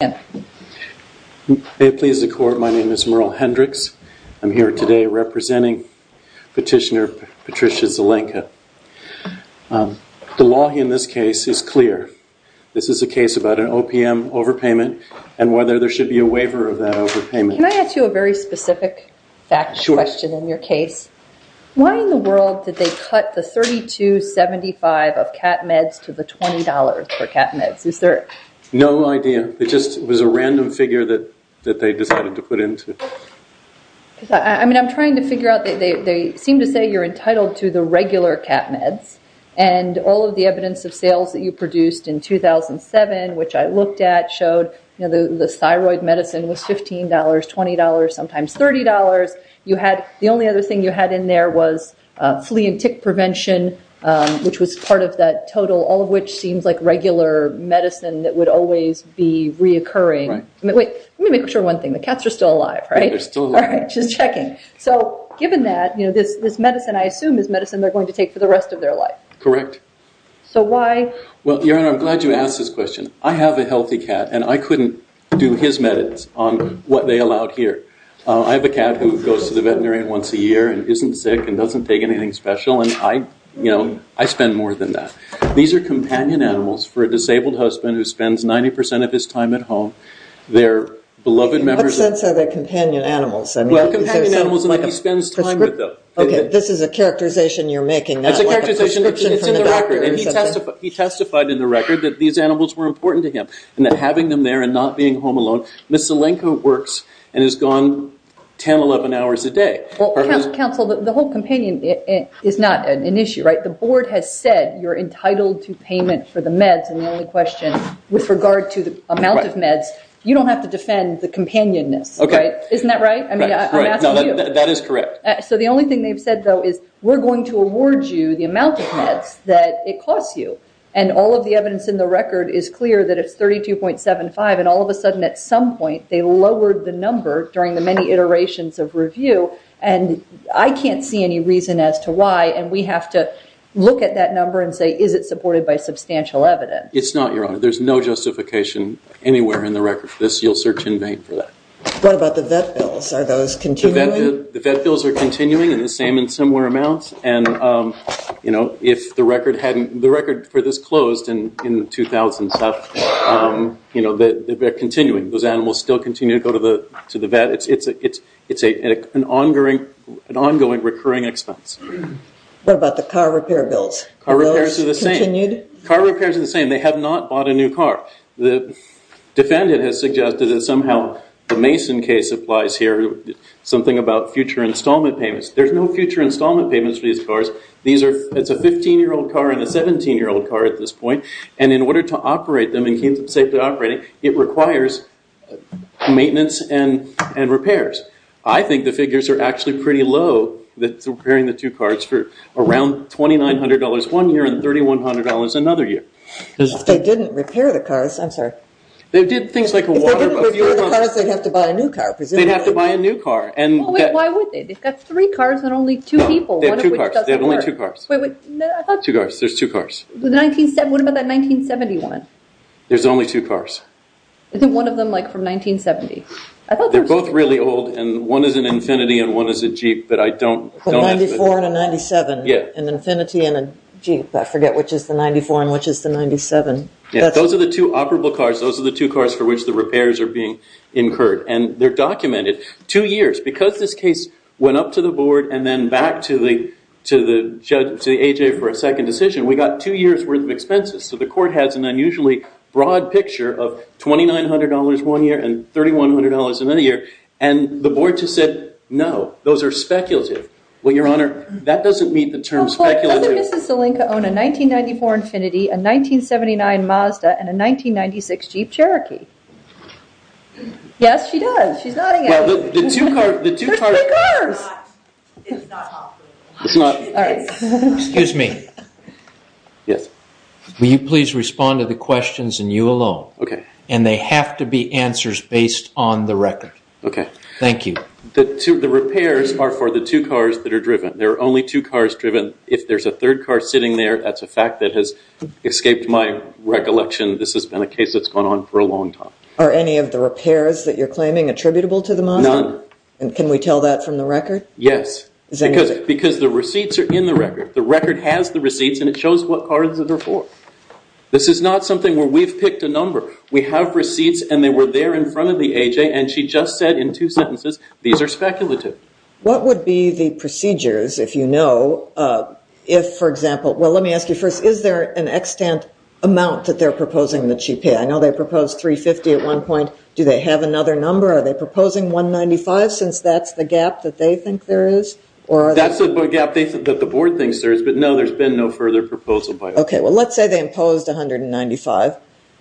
May it please the court, my name is Merle Hendricks. I'm here today representing petitioner Patricia Zelenka. The law in this case is clear. This is a case about an OPM overpayment and whether there should be a waiver of that overpayment. Can I ask you a very specific fact question in your case? Why in the world did they cut the $32.75 of CAT meds to the $20 for CAT meds? Was it a random figure that they decided to put into? I'm trying to figure out, they seem to say you're entitled to the regular CAT meds and all of the evidence of sales that you produced in 2007, which I looked at, showed the thyroid medicine was $15, $20, sometimes $30. The only other thing you had in there was flea and tick prevention, which was part of that total, all of which seems like regular medicine that would always be reoccurring. Wait, let me make sure one thing, the cats are still alive, right? They're still alive. Just checking. Given that, this medicine I assume is medicine they're going to take for the rest of their life. Correct. Why? Your Honor, I'm glad you asked this question. I have a healthy cat and I couldn't do his meds on what they allowed here. I have a cat who goes to the veterinarian once a year and isn't sick and doesn't take anything special. I spend more than that. These are companion animals for a disabled husband who spends 90% of his time at home. They're beloved members of... In what sense are they companion animals? Well, companion animals are like he spends time with them. Okay, this is a characterization you're making. It's a characterization, it's in the record. He testified in the record that these animals were important to him and that having them there and not being home alone, Ms. Zelenko works and has gone 10, 11 hours a day. Counsel, the whole companion is not an issue, right? The board has said you're entitled to payment for the meds and the only question with regard to the amount of meds, you don't have to defend the companionness, right? Isn't that right? I mean, I'm asking you. That is correct. So the only thing they've said though is we're going to award you the amount of meds that it costs you. And all of the evidence in the record is clear that it's 32.75 and all of a sudden at some point they lowered the number during the many iterations of review and I can't see any reason as to why and we have to look at that number and say, is it supported by substantial evidence? It's not, Your Honor. There's no justification anywhere in the record for this. You'll search in vain for that. What about the vet bills? Are those continuing? The vet bills are continuing in the same and similar amounts and if the record for this bill continue to go to the vet, it's an ongoing recurring expense. What about the car repair bills? Car repairs are the same. They have not bought a new car. The defendant has suggested that somehow the Mason case applies here, something about future installment payments. There's no future installment payments for these cars. It's a 15-year-old car and a 17-year-old car at this point and in order to operate them and keep them safely operating, it requires maintenance and repairs. I think the figures are actually pretty low that's repairing the two cars for around $2,900 one year and $3,100 another year. If they didn't repair the cars, I'm sorry. They did things like water a few months. If they didn't repair the cars, they'd have to buy a new car, presumably. They'd have to buy a new car and- Why would they? They've got three cars and only two people, one of which doesn't work. No, they have two cars. They have only two cars. Two cars. There's two cars. What about that 1971? There's only two cars. Isn't one of them from 1970? They're both really old and one is an Infiniti and one is a Jeep, but I don't have it. A 94 and a 97, an Infiniti and a Jeep. I forget which is the 94 and which is the 97. Those are the two operable cars. Those are the two cars for which the repairs are being incurred and they're documented. Two years. Because this case went up to the board and then back to the A.J. for a second decision, we got two years worth of expenses, so the court has an unusually broad picture of $2,900 one year and $3,100 another year. The board just said, no, those are speculative. Well, Your Honor, that doesn't meet the term speculative. Doesn't Mrs. Salinka own a 1994 Infiniti, a 1979 Mazda, and a 1996 Jeep Cherokee? Yes, she does. She's nodding at you. Excuse me. Yes. Will you please respond to the questions and you alone. Okay. And they have to be answers based on the record. Okay. Thank you. The repairs are for the two cars that are driven. There are only two cars driven. If there's a third car sitting there, that's a fact that has escaped my recollection. This has been a case that's gone on for a long time. Are any of the repairs that you're claiming attributable to the Mazda? None. Can we tell that from the record? Yes. Because the receipts are in the record. The record has the receipts and it shows what cars that are for. This is not something where we've picked a number. We have receipts and they were there in front of the A.J. and she just said in two sentences, these are speculative. What would be the procedures if you know, if, for example, well, let me ask you first, is there an extent amount that they're proposing that she pay? I know they proposed 350 at one point. Do they have another number? Are they proposing 195 since that's the gap that they think there is? That's the gap that the board thinks there is. But no, there's been no further proposal. Okay. Well, let's say they imposed 195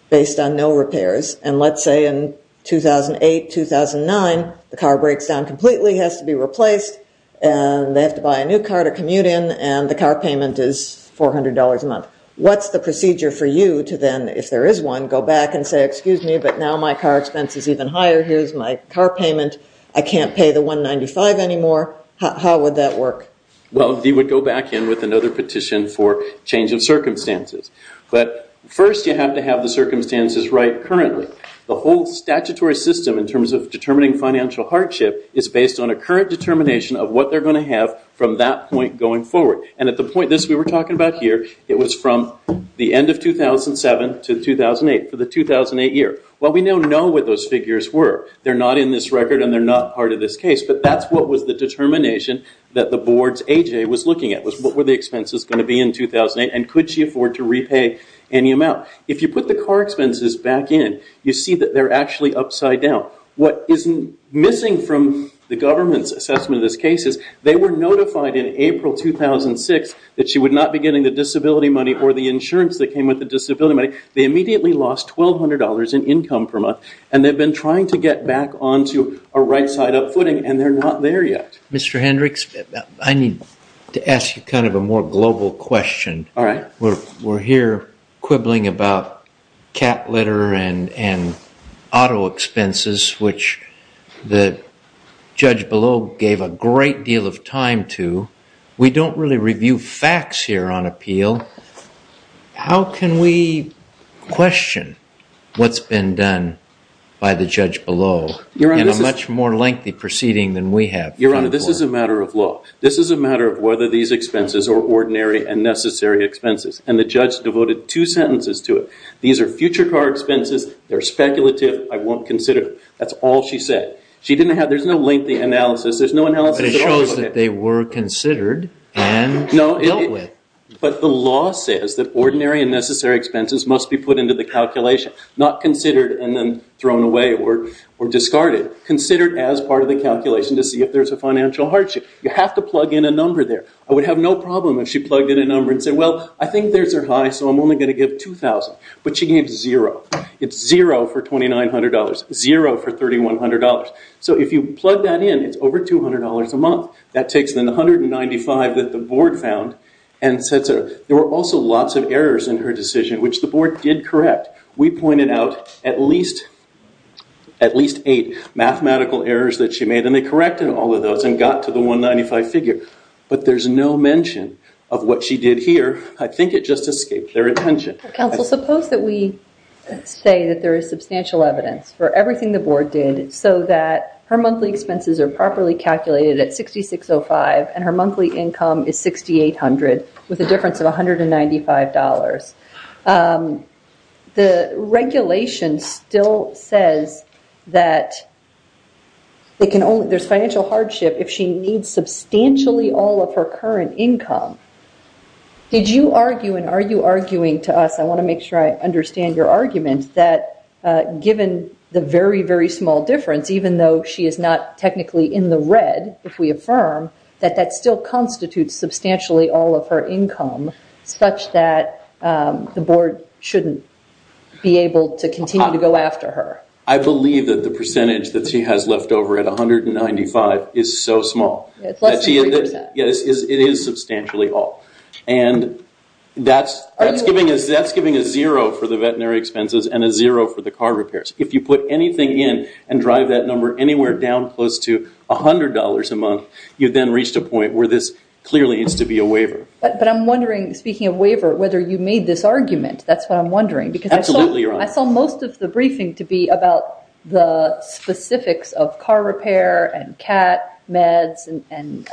based on no repairs and let's say in 2008, 2009, the car breaks down completely, has to be replaced and they have to buy a new car to commute in and the car payment is $400 a month. What's the procedure for you to then, if there is one, go back and say, excuse me, but now my car expense is even higher. Here's my car payment. I can't pay the 195 anymore. How would that work? Well, they would go back in with another petition for change of circumstances. But first, you have to have the circumstances right currently. The whole statutory system in terms of determining financial hardship is based on a current determination of what they're going to have from that point going forward. And at the point, this we were talking about here, it was from the end of 2007 to 2008, for the 2008 year. Well, we now know what those figures were. They're not in this record and they're not part of this case, but that's what was the determination that the board's A.J. was looking at was what were the expenses going to be in 2008 and could she afford to repay any amount. If you put the car expenses back in, you see that they're actually upside down. What is missing from the government's assessment of this case is they were notified in April 2006 that she would not be getting the disability money or the insurance that came with the disability money. They immediately lost $1,200 in income per month and they've been trying to get back onto a right side up footing and they're not there yet. Mr. Hendricks, I need to ask you kind of a more global question. We're here quibbling about cat litter and auto expenses, which the judge below gave a great deal of time to. We don't really review facts here on appeal. How can we question what's been done by the judge below in a much more lengthy proceeding than we have? Your Honor, this is a matter of law. This is a matter of whether these expenses are ordinary and necessary expenses and the judge devoted two sentences to it. These are future car expenses. They're speculative. I won't consider them. That's all she said. There's no lengthy analysis. There's no analysis at all. But it shows that they were considered and dealt with. But the law says that ordinary and necessary expenses must be put into the calculation, not considered and then thrown away or discarded. Considered as part of the calculation to see if there's a financial hardship. You have to plug in a number there. I would have no problem if she plugged in a number and said, well, I think there's a high so I'm only going to give $2,000. But she gave zero. It's zero for $2,900. Zero for $3,100. So if you plug that in, it's over $200 a month. That takes the $195 that the board found and sets it up. There were also lots of errors in her decision, which the board did correct. We pointed out at least eight mathematical errors that she made and they corrected all of those and got to the $195 figure. But there's no mention of what she did here. I think it just escaped their attention. Counsel, suppose that we say that there is substantial evidence for everything the board did so that her monthly expenses are properly calculated at $6,605 and her monthly income is $6,800 with a difference of $195. The regulation still says that there's financial hardship if she needs substantially all of her current income. Did you argue and are you arguing to us, I want to make sure I understand your argument, that given the very, very small difference, even though she is not technically in the red, if we affirm, that that still constitutes substantially all of her income such that the board shouldn't be able to continue to go after her? I believe that the percentage that she has left over at $195 is so small. It's less than 3%. It is substantially all. And that's giving a zero for the veterinary expenses and a zero for the car repairs. If you put anything in and drive that number anywhere down close to $100 a month, you've then reached a point where this clearly needs to be a waiver. But I'm wondering, speaking of waiver, whether you made this argument. That's what I'm wondering. Absolutely, Your Honor. I saw most of the briefing to be about the specifics of car repair and CAT, meds, and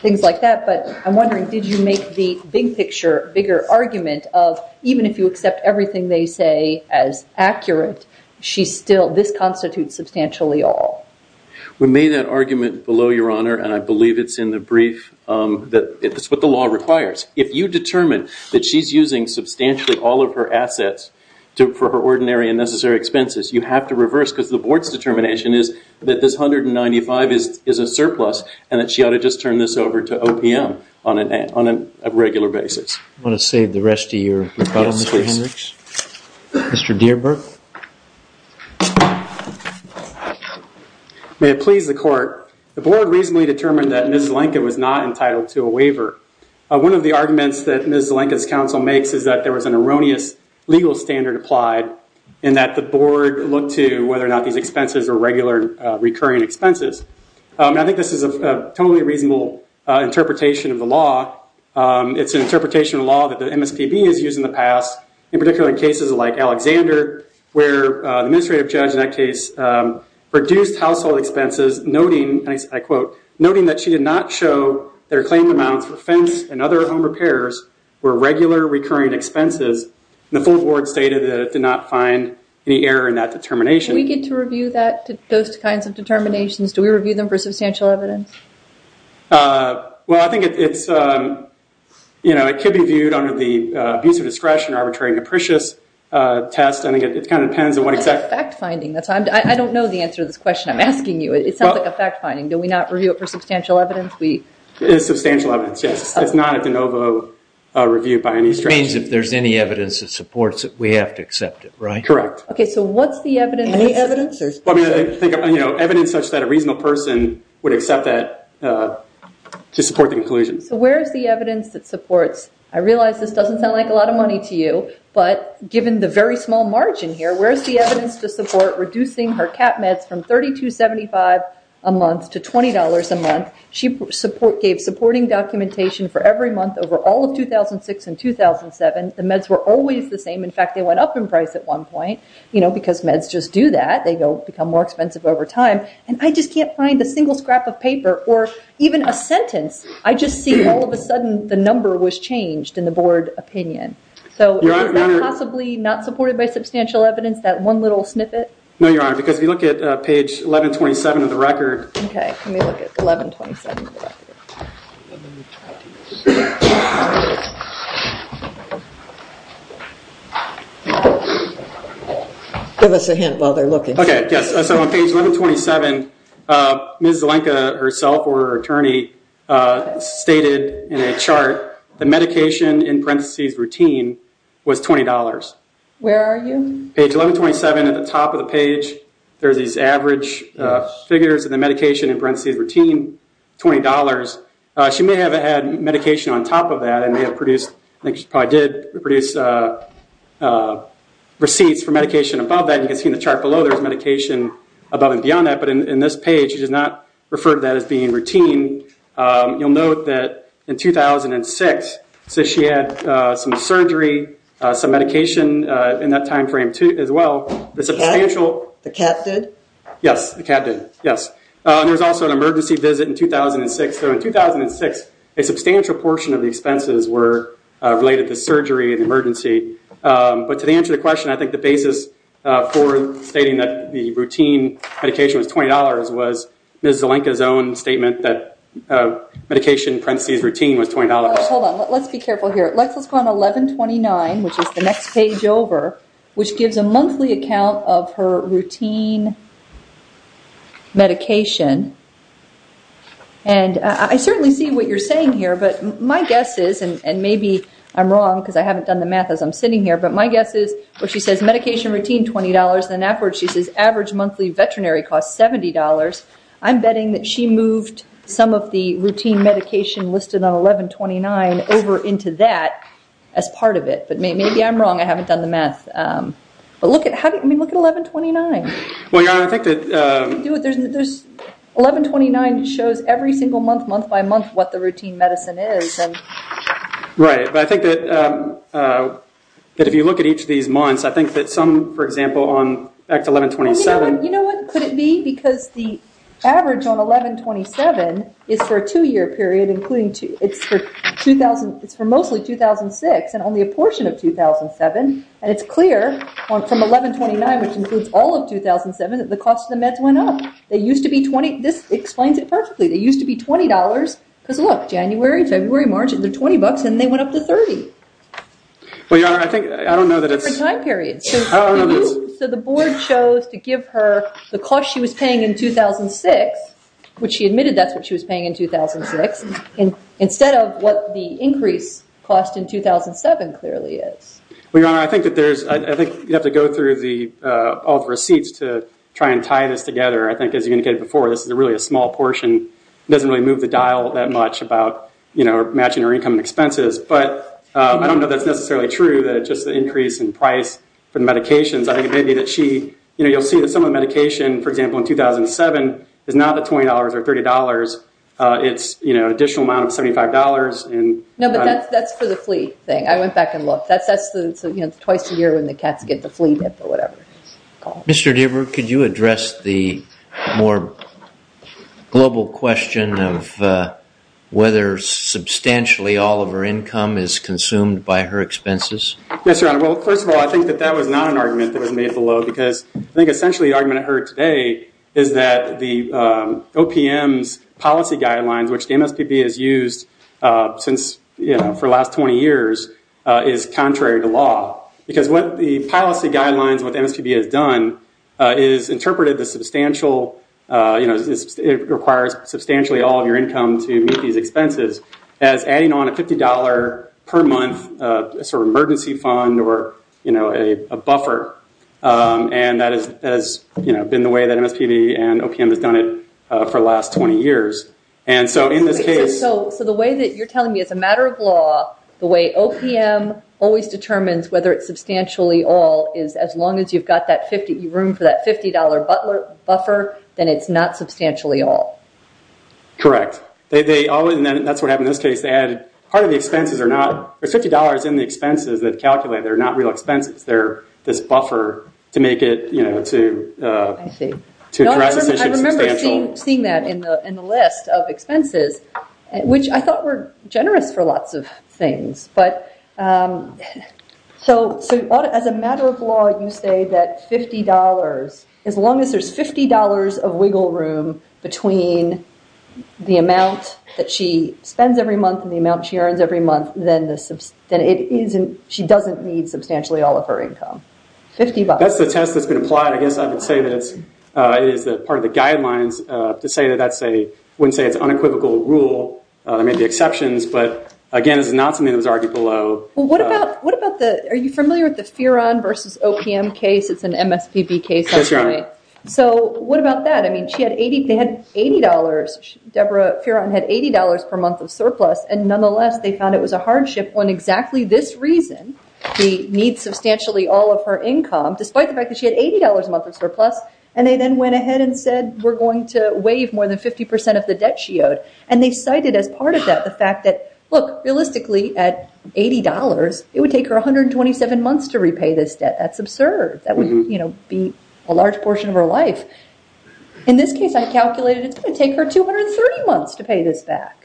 things like that. But I'm wondering, did you make the big picture, bigger argument, of even if you accept everything they say as accurate, this constitutes substantially all? We made that argument below, Your Honor, and I believe it's in the brief. That's what the law requires. If you determine that she's using substantially all of her assets for her ordinary and necessary expenses, you have to reverse because the board's determination is that this $195 is a surplus and that she ought to just turn this over to OPM on a regular basis. I want to save the rest of your rebuttal, Mr. Hendricks. Mr. Dierberg. May it please the court, the board reasonably determined that Ms. Zelenka was not entitled to a waiver. One of the arguments that Ms. Zelenka's counsel makes is that there was an erroneous legal standard applied and that the board looked to whether or not these expenses were regular recurring expenses. I think this is a totally reasonable interpretation of the law. It's an interpretation of the law that the MSPB has used in the past, in particular in cases like Alexander, where the administrative judge in that case reduced household expenses, noting, and I quote, noting that she did not show that her claimed amounts for fence and other home repairs were regular recurring expenses. The full board stated that it did not find any error in that determination. Do we get to review those kinds of determinations? Do we review them for substantial evidence? Well, I think it's, you know, it could be viewed under the abuse of discretion, arbitrary and capricious test. I think it kind of depends on what exact... It's a fact finding. I don't know the answer to this question I'm asking you. It sounds like a fact finding. Do we not review it for substantial evidence? It is substantial evidence, yes. It's not a de novo review by any strategy. It means if there's any evidence that supports it, we have to accept it, right? Correct. Okay, so what's the evidence? Any evidence? I mean, you know, evidence such that a reasonable person would accept that to support the conclusion. So where is the evidence that supports? I realize this doesn't sound like a lot of money to you, but given the very small margin here, where is the evidence to support reducing her cap meds from $32.75 a month to $20 a month? She gave supporting documentation for every month over all of 2006 and 2007. The meds were always the same. In fact, they went up in price at one point, you know, because meds just do that. They become more expensive over time. And I just can't find a single scrap of paper or even a sentence. I just see all of a sudden the number was changed in the board opinion. So is that possibly not supported by substantial evidence, that one little snippet? No, Your Honor, because if you look at page 1127 of the record... Okay, can we look at 1127 of the record? Give us a hint while they're looking. Okay, yes. So on page 1127, Ms. Zelenka herself or her attorney stated in a chart the medication in parentheses routine was $20. Where are you? Page 1127, at the top of the page, there's these average figures and the medication in parentheses routine, $20. She may have had medication on top of that and may have produced, I think she probably did produce receipts for medication above that. You can see in the chart below there's medication above and beyond that. But in this page, she does not refer to that as being routine. You'll note that in 2006, so she had some surgery, some medication in that time frame as well. The cat? The cat did? Yes, the cat did, yes. There was also an emergency visit in 2006. So in 2006, a substantial portion of the expenses were related to surgery and emergency. But to answer the question, I think the basis for stating that the routine medication was $20 was Ms. Zelenka's own statement that medication in parentheses routine was $20. Hold on. Let's be careful here. Let's go on 1129, which is the next page over, which gives a monthly account of her routine medication. I certainly see what you're saying here, but my guess is, and maybe I'm wrong because I haven't done the math as I'm sitting here, but my guess is where she says medication routine, $20, and then afterwards she says average monthly veterinary costs $70, I'm betting that she moved some of the routine medication listed on 1129 over into that as part of it. But maybe I'm wrong. I haven't done the math. But look at 1129. Well, Your Honor, I think that 1129 shows every single month, month by month, what the routine medicine is. Right. But I think that if you look at each of these months, I think that some, for example, on Act 1127. You know what? Could it be because the average on 1127 is for a two-year period, it's for mostly 2006 and only a portion of 2007, and it's clear from 1129, which includes all of 2007, that the cost of the meds went up. This explains it perfectly. They used to be $20 because, look, January, February, March, they're $20 and they went up to $30. Well, Your Honor, I think I don't know that it's. Different time periods. I don't know that it's. So the board chose to give her the cost she was paying in 2006, which she admitted that's what she was paying in 2006, instead of what the increase cost in 2007 clearly is. Well, Your Honor, I think you have to go through all the receipts to try and tie this together. I think as you indicated before, this is really a small portion. It doesn't really move the dial that much about matching her income and expenses. But I don't know that's necessarily true, that it's just the increase in price for the medications. I think it may be that she. You'll see that some of the medication, for example, in 2007 is not at $20 or $30. It's an additional amount of $75. No, but that's for the flea thing. I went back and looked. That's twice a year when the cats get the flea dip or whatever. Mr. Deaver, could you address the more global question of whether substantially all of her income is consumed by her expenses? Yes, Your Honor. Well, first of all, I think that that was not an argument that was made below because I think essentially the argument I heard today is that the OPM's policy guidelines, which the MSPB has used for the last 20 years, is contrary to law. Because what the policy guidelines, what the MSPB has done, is interpreted the substantial, it requires substantially all of your income to meet these expenses, as adding on a $50 per month sort of emergency fund or a buffer. And that has been the way that MSPB and OPM has done it for the last 20 years. And so in this case. So the way that you're telling me it's a matter of law, the way OPM always determines whether it's substantially all is as long as you've got that room for that $50 buffer, then it's not substantially all. Correct. And that's what happened in this case. Part of the expenses are not, there's $50 in the expenses that calculate. They're not real expenses. They're this buffer to make it, you know, to address the issue substantially. I remember seeing that in the list of expenses, which I thought were generous for lots of things. So as a matter of law, you say that $50, as long as there's $50 of wiggle room between the amount that she spends every month and the amount she earns every month, then she doesn't need substantially all of her income. $50. That's the test that's been applied. I guess I would say that it is part of the guidelines to say that that's a, I wouldn't say it's unequivocal rule. There may be exceptions. But again, this is not something that was argued below. Well, what about the, are you familiar with the Fearon versus OPM case? It's an MSPB case. Yes, Your Honor. So what about that? I mean, she had $80, Deborah Fearon had $80 per month of surplus. And nonetheless, they found it was a hardship when exactly this reason, she needs substantially all of her income, despite the fact that she had $80 a month of surplus. And they then went ahead and said, we're going to waive more than 50% of the debt she owed. And they cited as part of that the fact that, look, realistically at $80, it would take her 127 months to repay this debt. That's absurd. That would be a large portion of her life. In this case, I calculated it's going to take her 230 months to pay this back.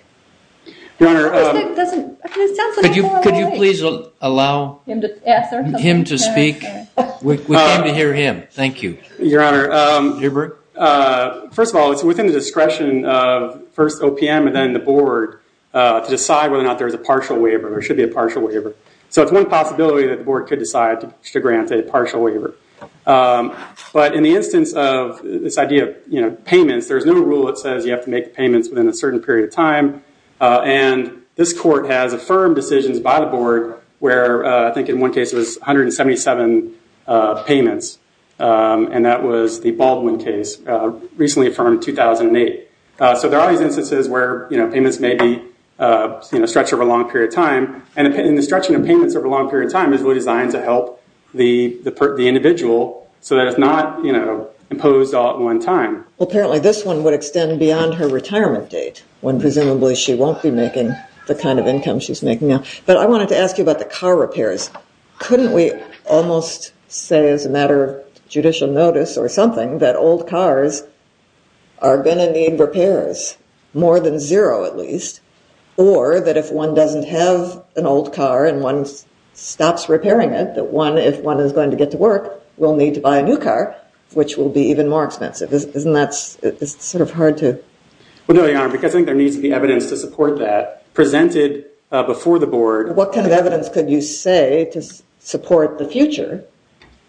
Your Honor. It sounds like I'm far away. Could you please allow him to speak? We came to hear him. Thank you. Your Honor, first of all, it's within the discretion of first OPM and then the board to decide whether or not there's a partial waiver. There should be a partial waiver. So it's one possibility that the board could decide to grant a partial waiver. But in the instance of this idea of payments, there's no rule that says you have to make payments within a certain period of time. And this court has affirmed decisions by the board where I think in one case it was 177 payments. And that was the Baldwin case, recently affirmed in 2008. So there are these instances where payments may be stretched over a long period of time. And the stretching of payments over a long period of time is really designed to help the individual so that it's not imposed all at one time. Apparently this one would extend beyond her retirement date, when presumably she won't be making the kind of income she's making now. But I wanted to ask you about the car repairs. Couldn't we almost say, as a matter of judicial notice or something, that old cars are going to need repairs, more than zero at least? Or that if one doesn't have an old car and one stops repairing it, that one, if one is going to get to work, will need to buy a new car, which will be even more expensive. Isn't that sort of hard to... Well, no, Your Honor, because I think there needs to be evidence to support that. What kind of evidence could you say to support the future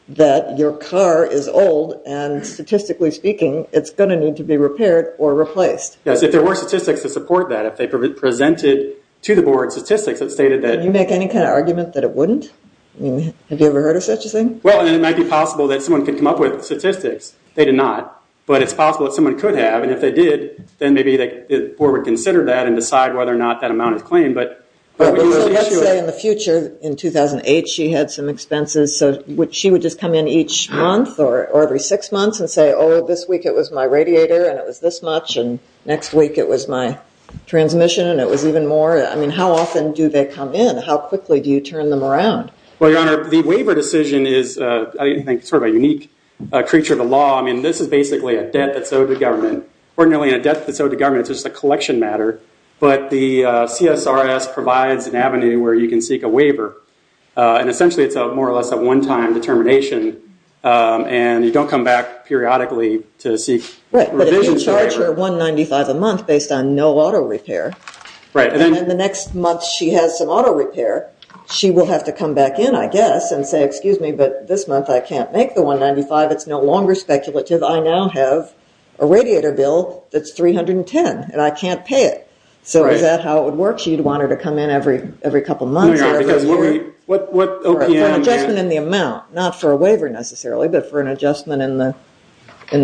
that your car is old and statistically speaking it's going to need to be repaired or replaced? Yes, if there were statistics to support that, if they presented to the board statistics that stated that... Can you make any kind of argument that it wouldn't? Have you ever heard of such a thing? Well, it might be possible that someone could come up with statistics. They did not. But it's possible that someone could have, and if they did, then maybe the board would consider that and decide whether or not that amount is claimed. But let's say in the future, in 2008, she had some expenses, so she would just come in each month or every six months and say, oh, this week it was my radiator and it was this much, and next week it was my transmission and it was even more. I mean, how often do they come in? How quickly do you turn them around? Well, Your Honor, the waiver decision is, I think, sort of a unique creature of the law. I mean, this is basically a debt that's owed to the government. Ordinarily, in a debt that's owed to government, it's just a collection matter, but the CSRS provides an avenue where you can seek a waiver. And essentially, it's more or less a one-time determination, and you don't come back periodically to seek revisions to the waiver. Right, but if you charge her $195 a month based on no auto repair, and then the next month she has some auto repair, she will have to come back in, I guess, and say, excuse me, but this month I can't make the $195. It's no longer speculative. I now have a radiator bill that's $310, and I can't pay it. So is that how it would work? So you'd want her to come in every couple months or every year? No, Your Honor, because what OPM... For an adjustment in the amount, not for a waiver necessarily, but for an adjustment in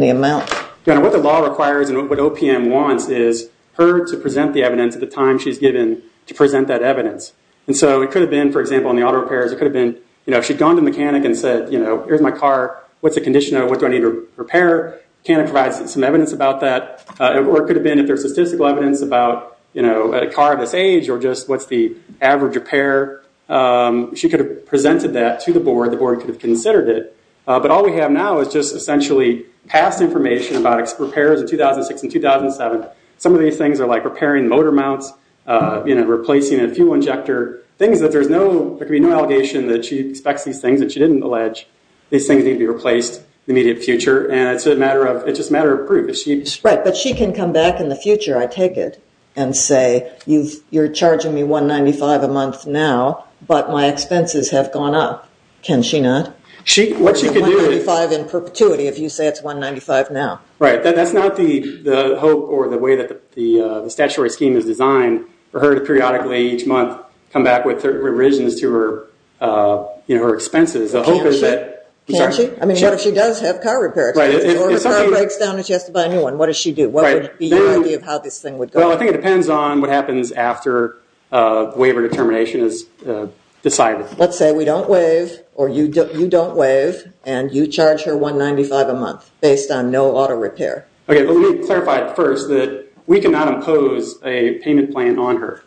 the amount. Your Honor, what the law requires and what OPM wants is her to present the evidence at the time she's given to present that evidence. And so it could have been, for example, in the auto repairs, it could have been, you know, if she'd gone to a mechanic and said, you know, here's my car. What's the condition of it? What do I need to repair? Can I provide some evidence about that? Or it could have been if there's statistical evidence about, you know, a car of this age or just what's the average repair, she could have presented that to the board. The board could have considered it. But all we have now is just essentially past information about repairs in 2006 and 2007. Some of these things are like repairing motor mounts, you know, replacing a fuel injector, things that there's no... She expects these things that she didn't allege. These things need to be replaced in the immediate future. And it's a matter of... It's just a matter of proof. Right. But she can come back in the future, I take it, and say you're charging me $195 a month now, but my expenses have gone up. Can she not? What she could do is... $195 in perpetuity if you say it's $195 now. Right. That's not the hope or the way that the statutory scheme is designed for her to periodically, each month, come back with revisions to her expenses. Can she? Can she? I mean, what if she does have car repair expenses? Or if a car breaks down and she has to buy a new one, what does she do? What would be your idea of how this thing would go? Well, I think it depends on what happens after waiver determination is decided. Let's say we don't waive or you don't waive and you charge her $195 a month based on no auto repair. Okay, but let me clarify first that we cannot impose a payment plan on her.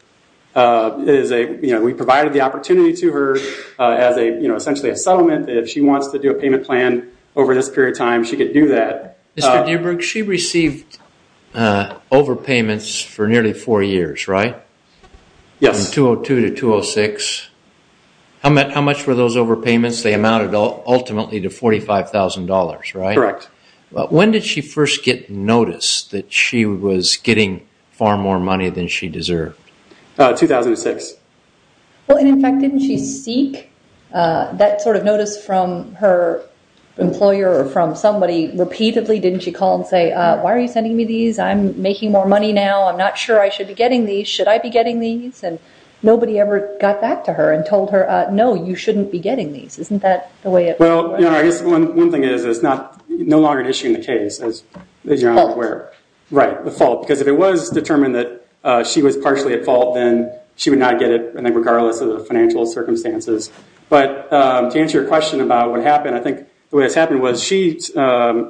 We provided the opportunity to her as essentially a settlement. If she wants to do a payment plan over this period of time, she could do that. Mr. Dierberg, she received overpayments for nearly four years, right? Yes. From 2002 to 2006. How much were those overpayments? They amounted ultimately to $45,000, right? Correct. When did she first get notice that she was getting far more money than she deserved? 2006. Well, and in fact, didn't she seek that sort of notice from her employer or from somebody repeatedly? Didn't she call and say, why are you sending me these? I'm making more money now. I'm not sure I should be getting these. Should I be getting these? And nobody ever got back to her and told her, no, you shouldn't be getting these. Isn't that the way it was? Well, I guess one thing is it's no longer an issue in the case, as you're aware. The fault. Right, the fault. Because if it was determined that she was partially at fault, then she would not get it regardless of the financial circumstances. But to answer your question about what happened, I think the way this happened was she knew of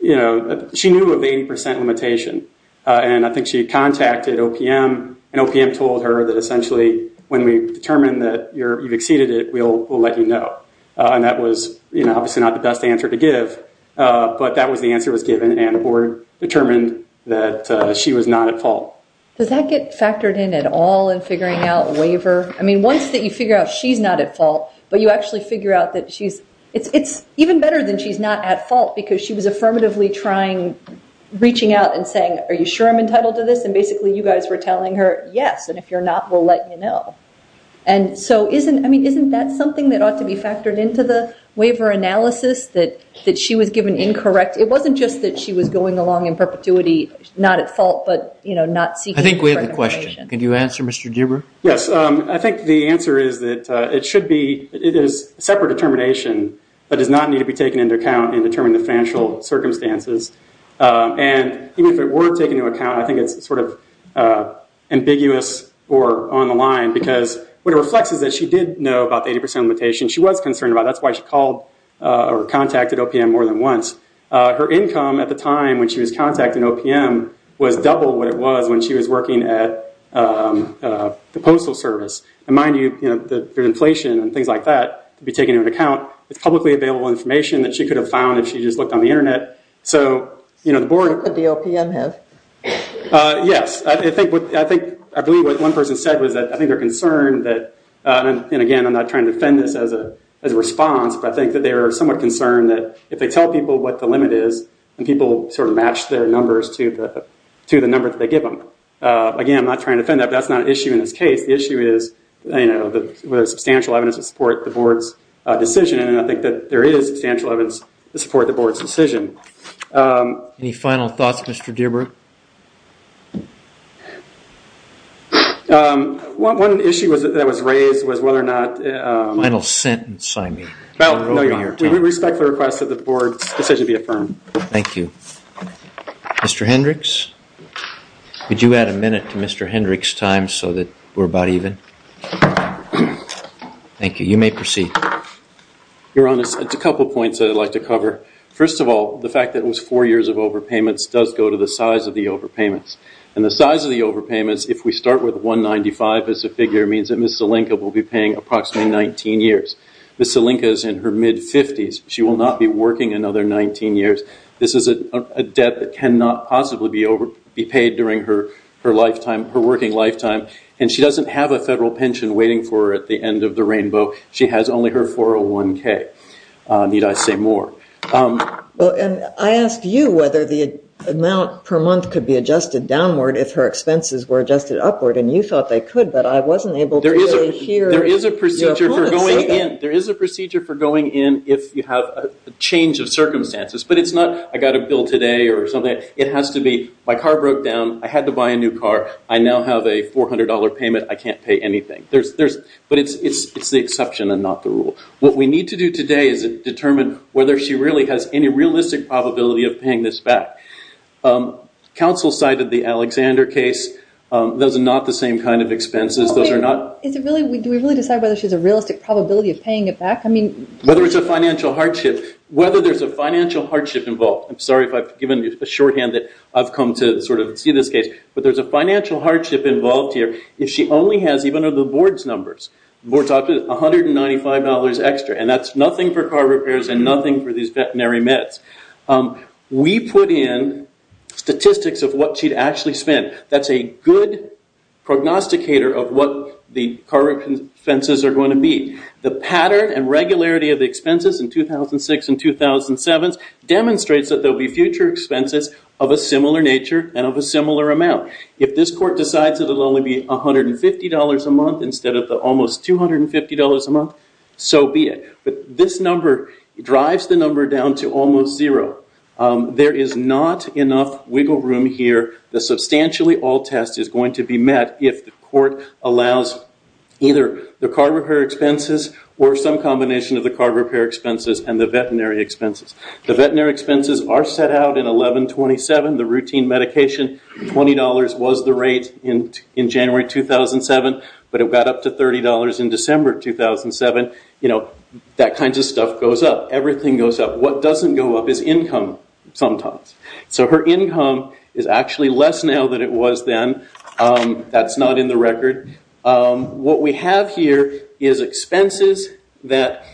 the 80% limitation, and I think she contacted OPM, and OPM told her that essentially when we determine that you've exceeded it, we'll let you know. And that was obviously not the best answer to give, but that was the answer that was given, and the board determined that she was not at fault. Does that get factored in at all in figuring out waiver? I mean, once you figure out she's not at fault, but you actually figure out that she's – it's even better than she's not at fault because she was affirmatively trying, reaching out and saying, are you sure I'm entitled to this? And basically you guys were telling her, yes, and if you're not, we'll let you know. And so isn't – I mean, isn't that something that ought to be factored into the waiver analysis, that she was given incorrect – it wasn't just that she was going along in perpetuity, not at fault, but, you know, not seeking – I think we have a question. Can you answer, Mr. Deuber? Yes. I think the answer is that it should be – it is a separate determination that does not need to be taken into account in determining the financial circumstances. And even if it were taken into account, I think it's sort of ambiguous or on the line because what it reflects is that she did know about the 80% limitation. She was concerned about it. That's why she called or contacted OPM more than once. Her income at the time when she was contacting OPM was double what it was when she was working at the Postal Service. And mind you, you know, there's inflation and things like that to be taken into account. It's publicly available information that she could have found if she just looked on the Internet. So, you know, the board – What could the OPM have? Yes. I think – I believe what one person said was that I think they're concerned that – and, again, I'm not trying to defend this as a response, but I think that they are somewhat concerned that if they tell people what the limit is and people sort of match their numbers to the number that they give them. Again, I'm not trying to defend that, but that's not an issue in this case. The issue is, you know, whether there's substantial evidence to support the board's decision, and I think that there is substantial evidence to support the board's decision. Any final thoughts, Mr. Deerberg? One issue that was raised was whether or not – Final sentence, I mean. We respect the request that the board's decision be affirmed. Thank you. Mr. Hendricks? Could you add a minute to Mr. Hendricks' time so that we're about even? Thank you. Your Honor, it's a couple points I'd like to cover. First of all, the fact that it was four years of overpayments does go to the size of the overpayments, and the size of the overpayments, if we start with 195 as the figure, means that Ms. Zelenka will be paying approximately 19 years. Ms. Zelenka is in her mid-50s. She will not be working another 19 years. This is a debt that cannot possibly be paid during her working lifetime, and she doesn't have a federal pension waiting for her at the end of the rainbow. She has only her 401K, need I say more. And I asked you whether the amount per month could be adjusted downward if her expenses were adjusted upward, and you thought they could, but I wasn't able to really hear your comments about that. There is a procedure for going in if you have a change of circumstances, but it's not I got a bill today or something. It has to be my car broke down, I had to buy a new car, I now have a $400 payment, I can't pay anything. But it's the exception and not the rule. What we need to do today is determine whether she really has any realistic probability of paying this back. Counsel cited the Alexander case. Those are not the same kind of expenses. Do we really decide whether she has a realistic probability of paying it back? Whether it's a financial hardship. Whether there's a financial hardship involved. I'm sorry if I've given you a shorthand that I've come to sort of see this case. But there's a financial hardship involved here if she only has even the board's numbers. $195 extra. And that's nothing for car repairs and nothing for these veterinary meds. We put in statistics of what she'd actually spent. That's a good prognosticator of what the car expenses are going to be. The pattern and regularity of the expenses in 2006 and 2007 demonstrates that there will be future expenses of a similar nature and of a similar amount. If this court decides it will only be $150 a month instead of the almost $250 a month, so be it. But this number drives the number down to almost zero. There is not enough wiggle room here. The substantially all test is going to be met if the court allows either the car repair expenses or some combination of the car repair expenses and the veterinary expenses. The veterinary expenses are set out in 1127. The routine medication, $20 was the rate in January 2007, but it got up to $30 in December 2007. That kind of stuff goes up. Everything goes up. What doesn't go up is income sometimes. So her income is actually less now than it was then. That's not in the record. What we have here is expenses that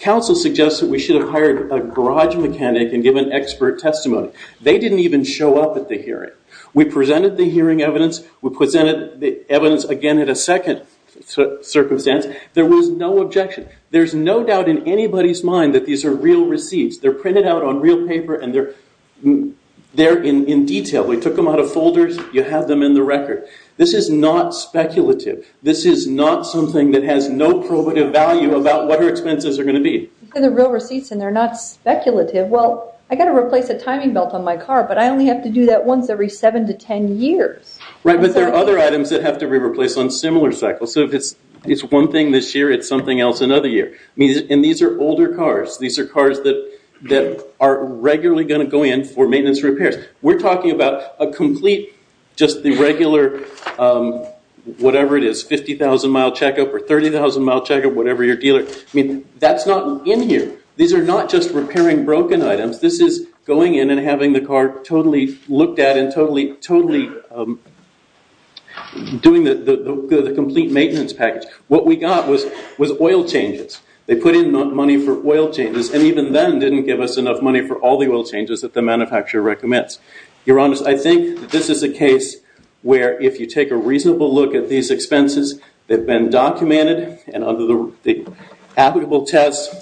council suggested we should have hired a garage mechanic and given expert testimony. They didn't even show up at the hearing. We presented the hearing evidence. We presented the evidence again at a second circumstance. There was no objection. There's no doubt in anybody's mind that these are real receipts. They're printed out on real paper, and they're in detail. We took them out of folders. You have them in the record. This is not speculative. This is not something that has no probative value about what her expenses are going to be. These are the real receipts, and they're not speculative. Well, I've got to replace a timing belt on my car, but I only have to do that once every 7 to 10 years. Right, but there are other items that have to be replaced on similar cycles. So if it's one thing this year, it's something else another year. And these are older cars. These are cars that are regularly going to go in for maintenance repairs. We're talking about a complete, just the regular, whatever it is, 50,000-mile checkup or 30,000-mile checkup, whatever your dealer. I mean, that's not in here. These are not just repairing broken items. This is going in and having the car totally looked at and totally doing the complete maintenance package. What we got was oil changes. They put in money for oil changes, and even then didn't give us enough money for all the oil changes that the manufacturer recommends. Your Honor, I think that this is a case where if you take a reasonable look at these expenses, they've been documented and under the applicable test,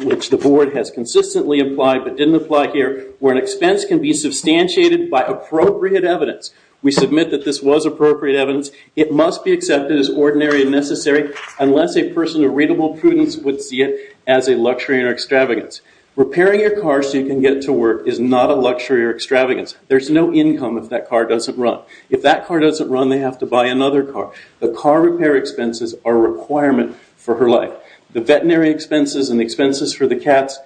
which the board has consistently applied but didn't apply here, where an expense can be substantiated by appropriate evidence. We submit that this was appropriate evidence. It must be accepted as ordinary and necessary unless a person of readable prudence would see it as a luxury or extravagance. Repairing your car so you can get to work is not a luxury or extravagance. There's no income if that car doesn't run. If that car doesn't run, they have to buy another car. The car repair expenses are a requirement for her life. The veterinary expenses and expenses for the cats,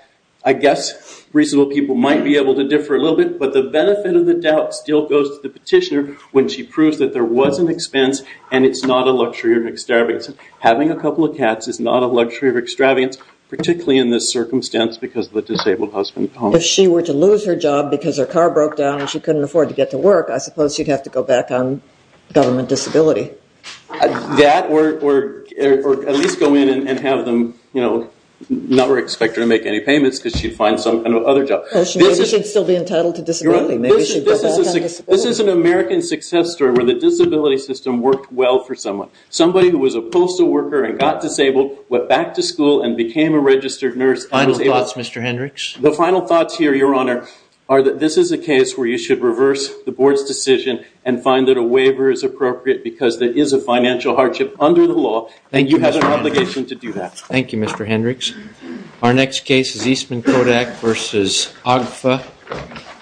I guess reasonable people might be able to differ a little bit, but the benefit of the doubt still goes to the petitioner when she proves that there was an expense and it's not a luxury or extravagance. Having a couple of cats is not a luxury or extravagance, particularly in this circumstance because of the disabled husband. If she were to lose her job because her car broke down and she couldn't afford to get to work, I suppose she'd have to go back on government disability. That or at least go in and have them not expect her to make any payments because she'd find some kind of other job. Maybe she'd still be entitled to disability. This is an American success story where the disability system worked well for someone. Somebody who was a postal worker and got disabled went back to school and became a registered nurse. Final thoughts, Mr. Hendricks? The final thoughts here, Your Honor, are that this is a case where you should reverse the board's decision and find that a waiver is appropriate because there is a financial hardship under the law and you have an obligation to do that. Thank you, Mr. Hendricks. Our next case is Eastman Kodak v. Agfa.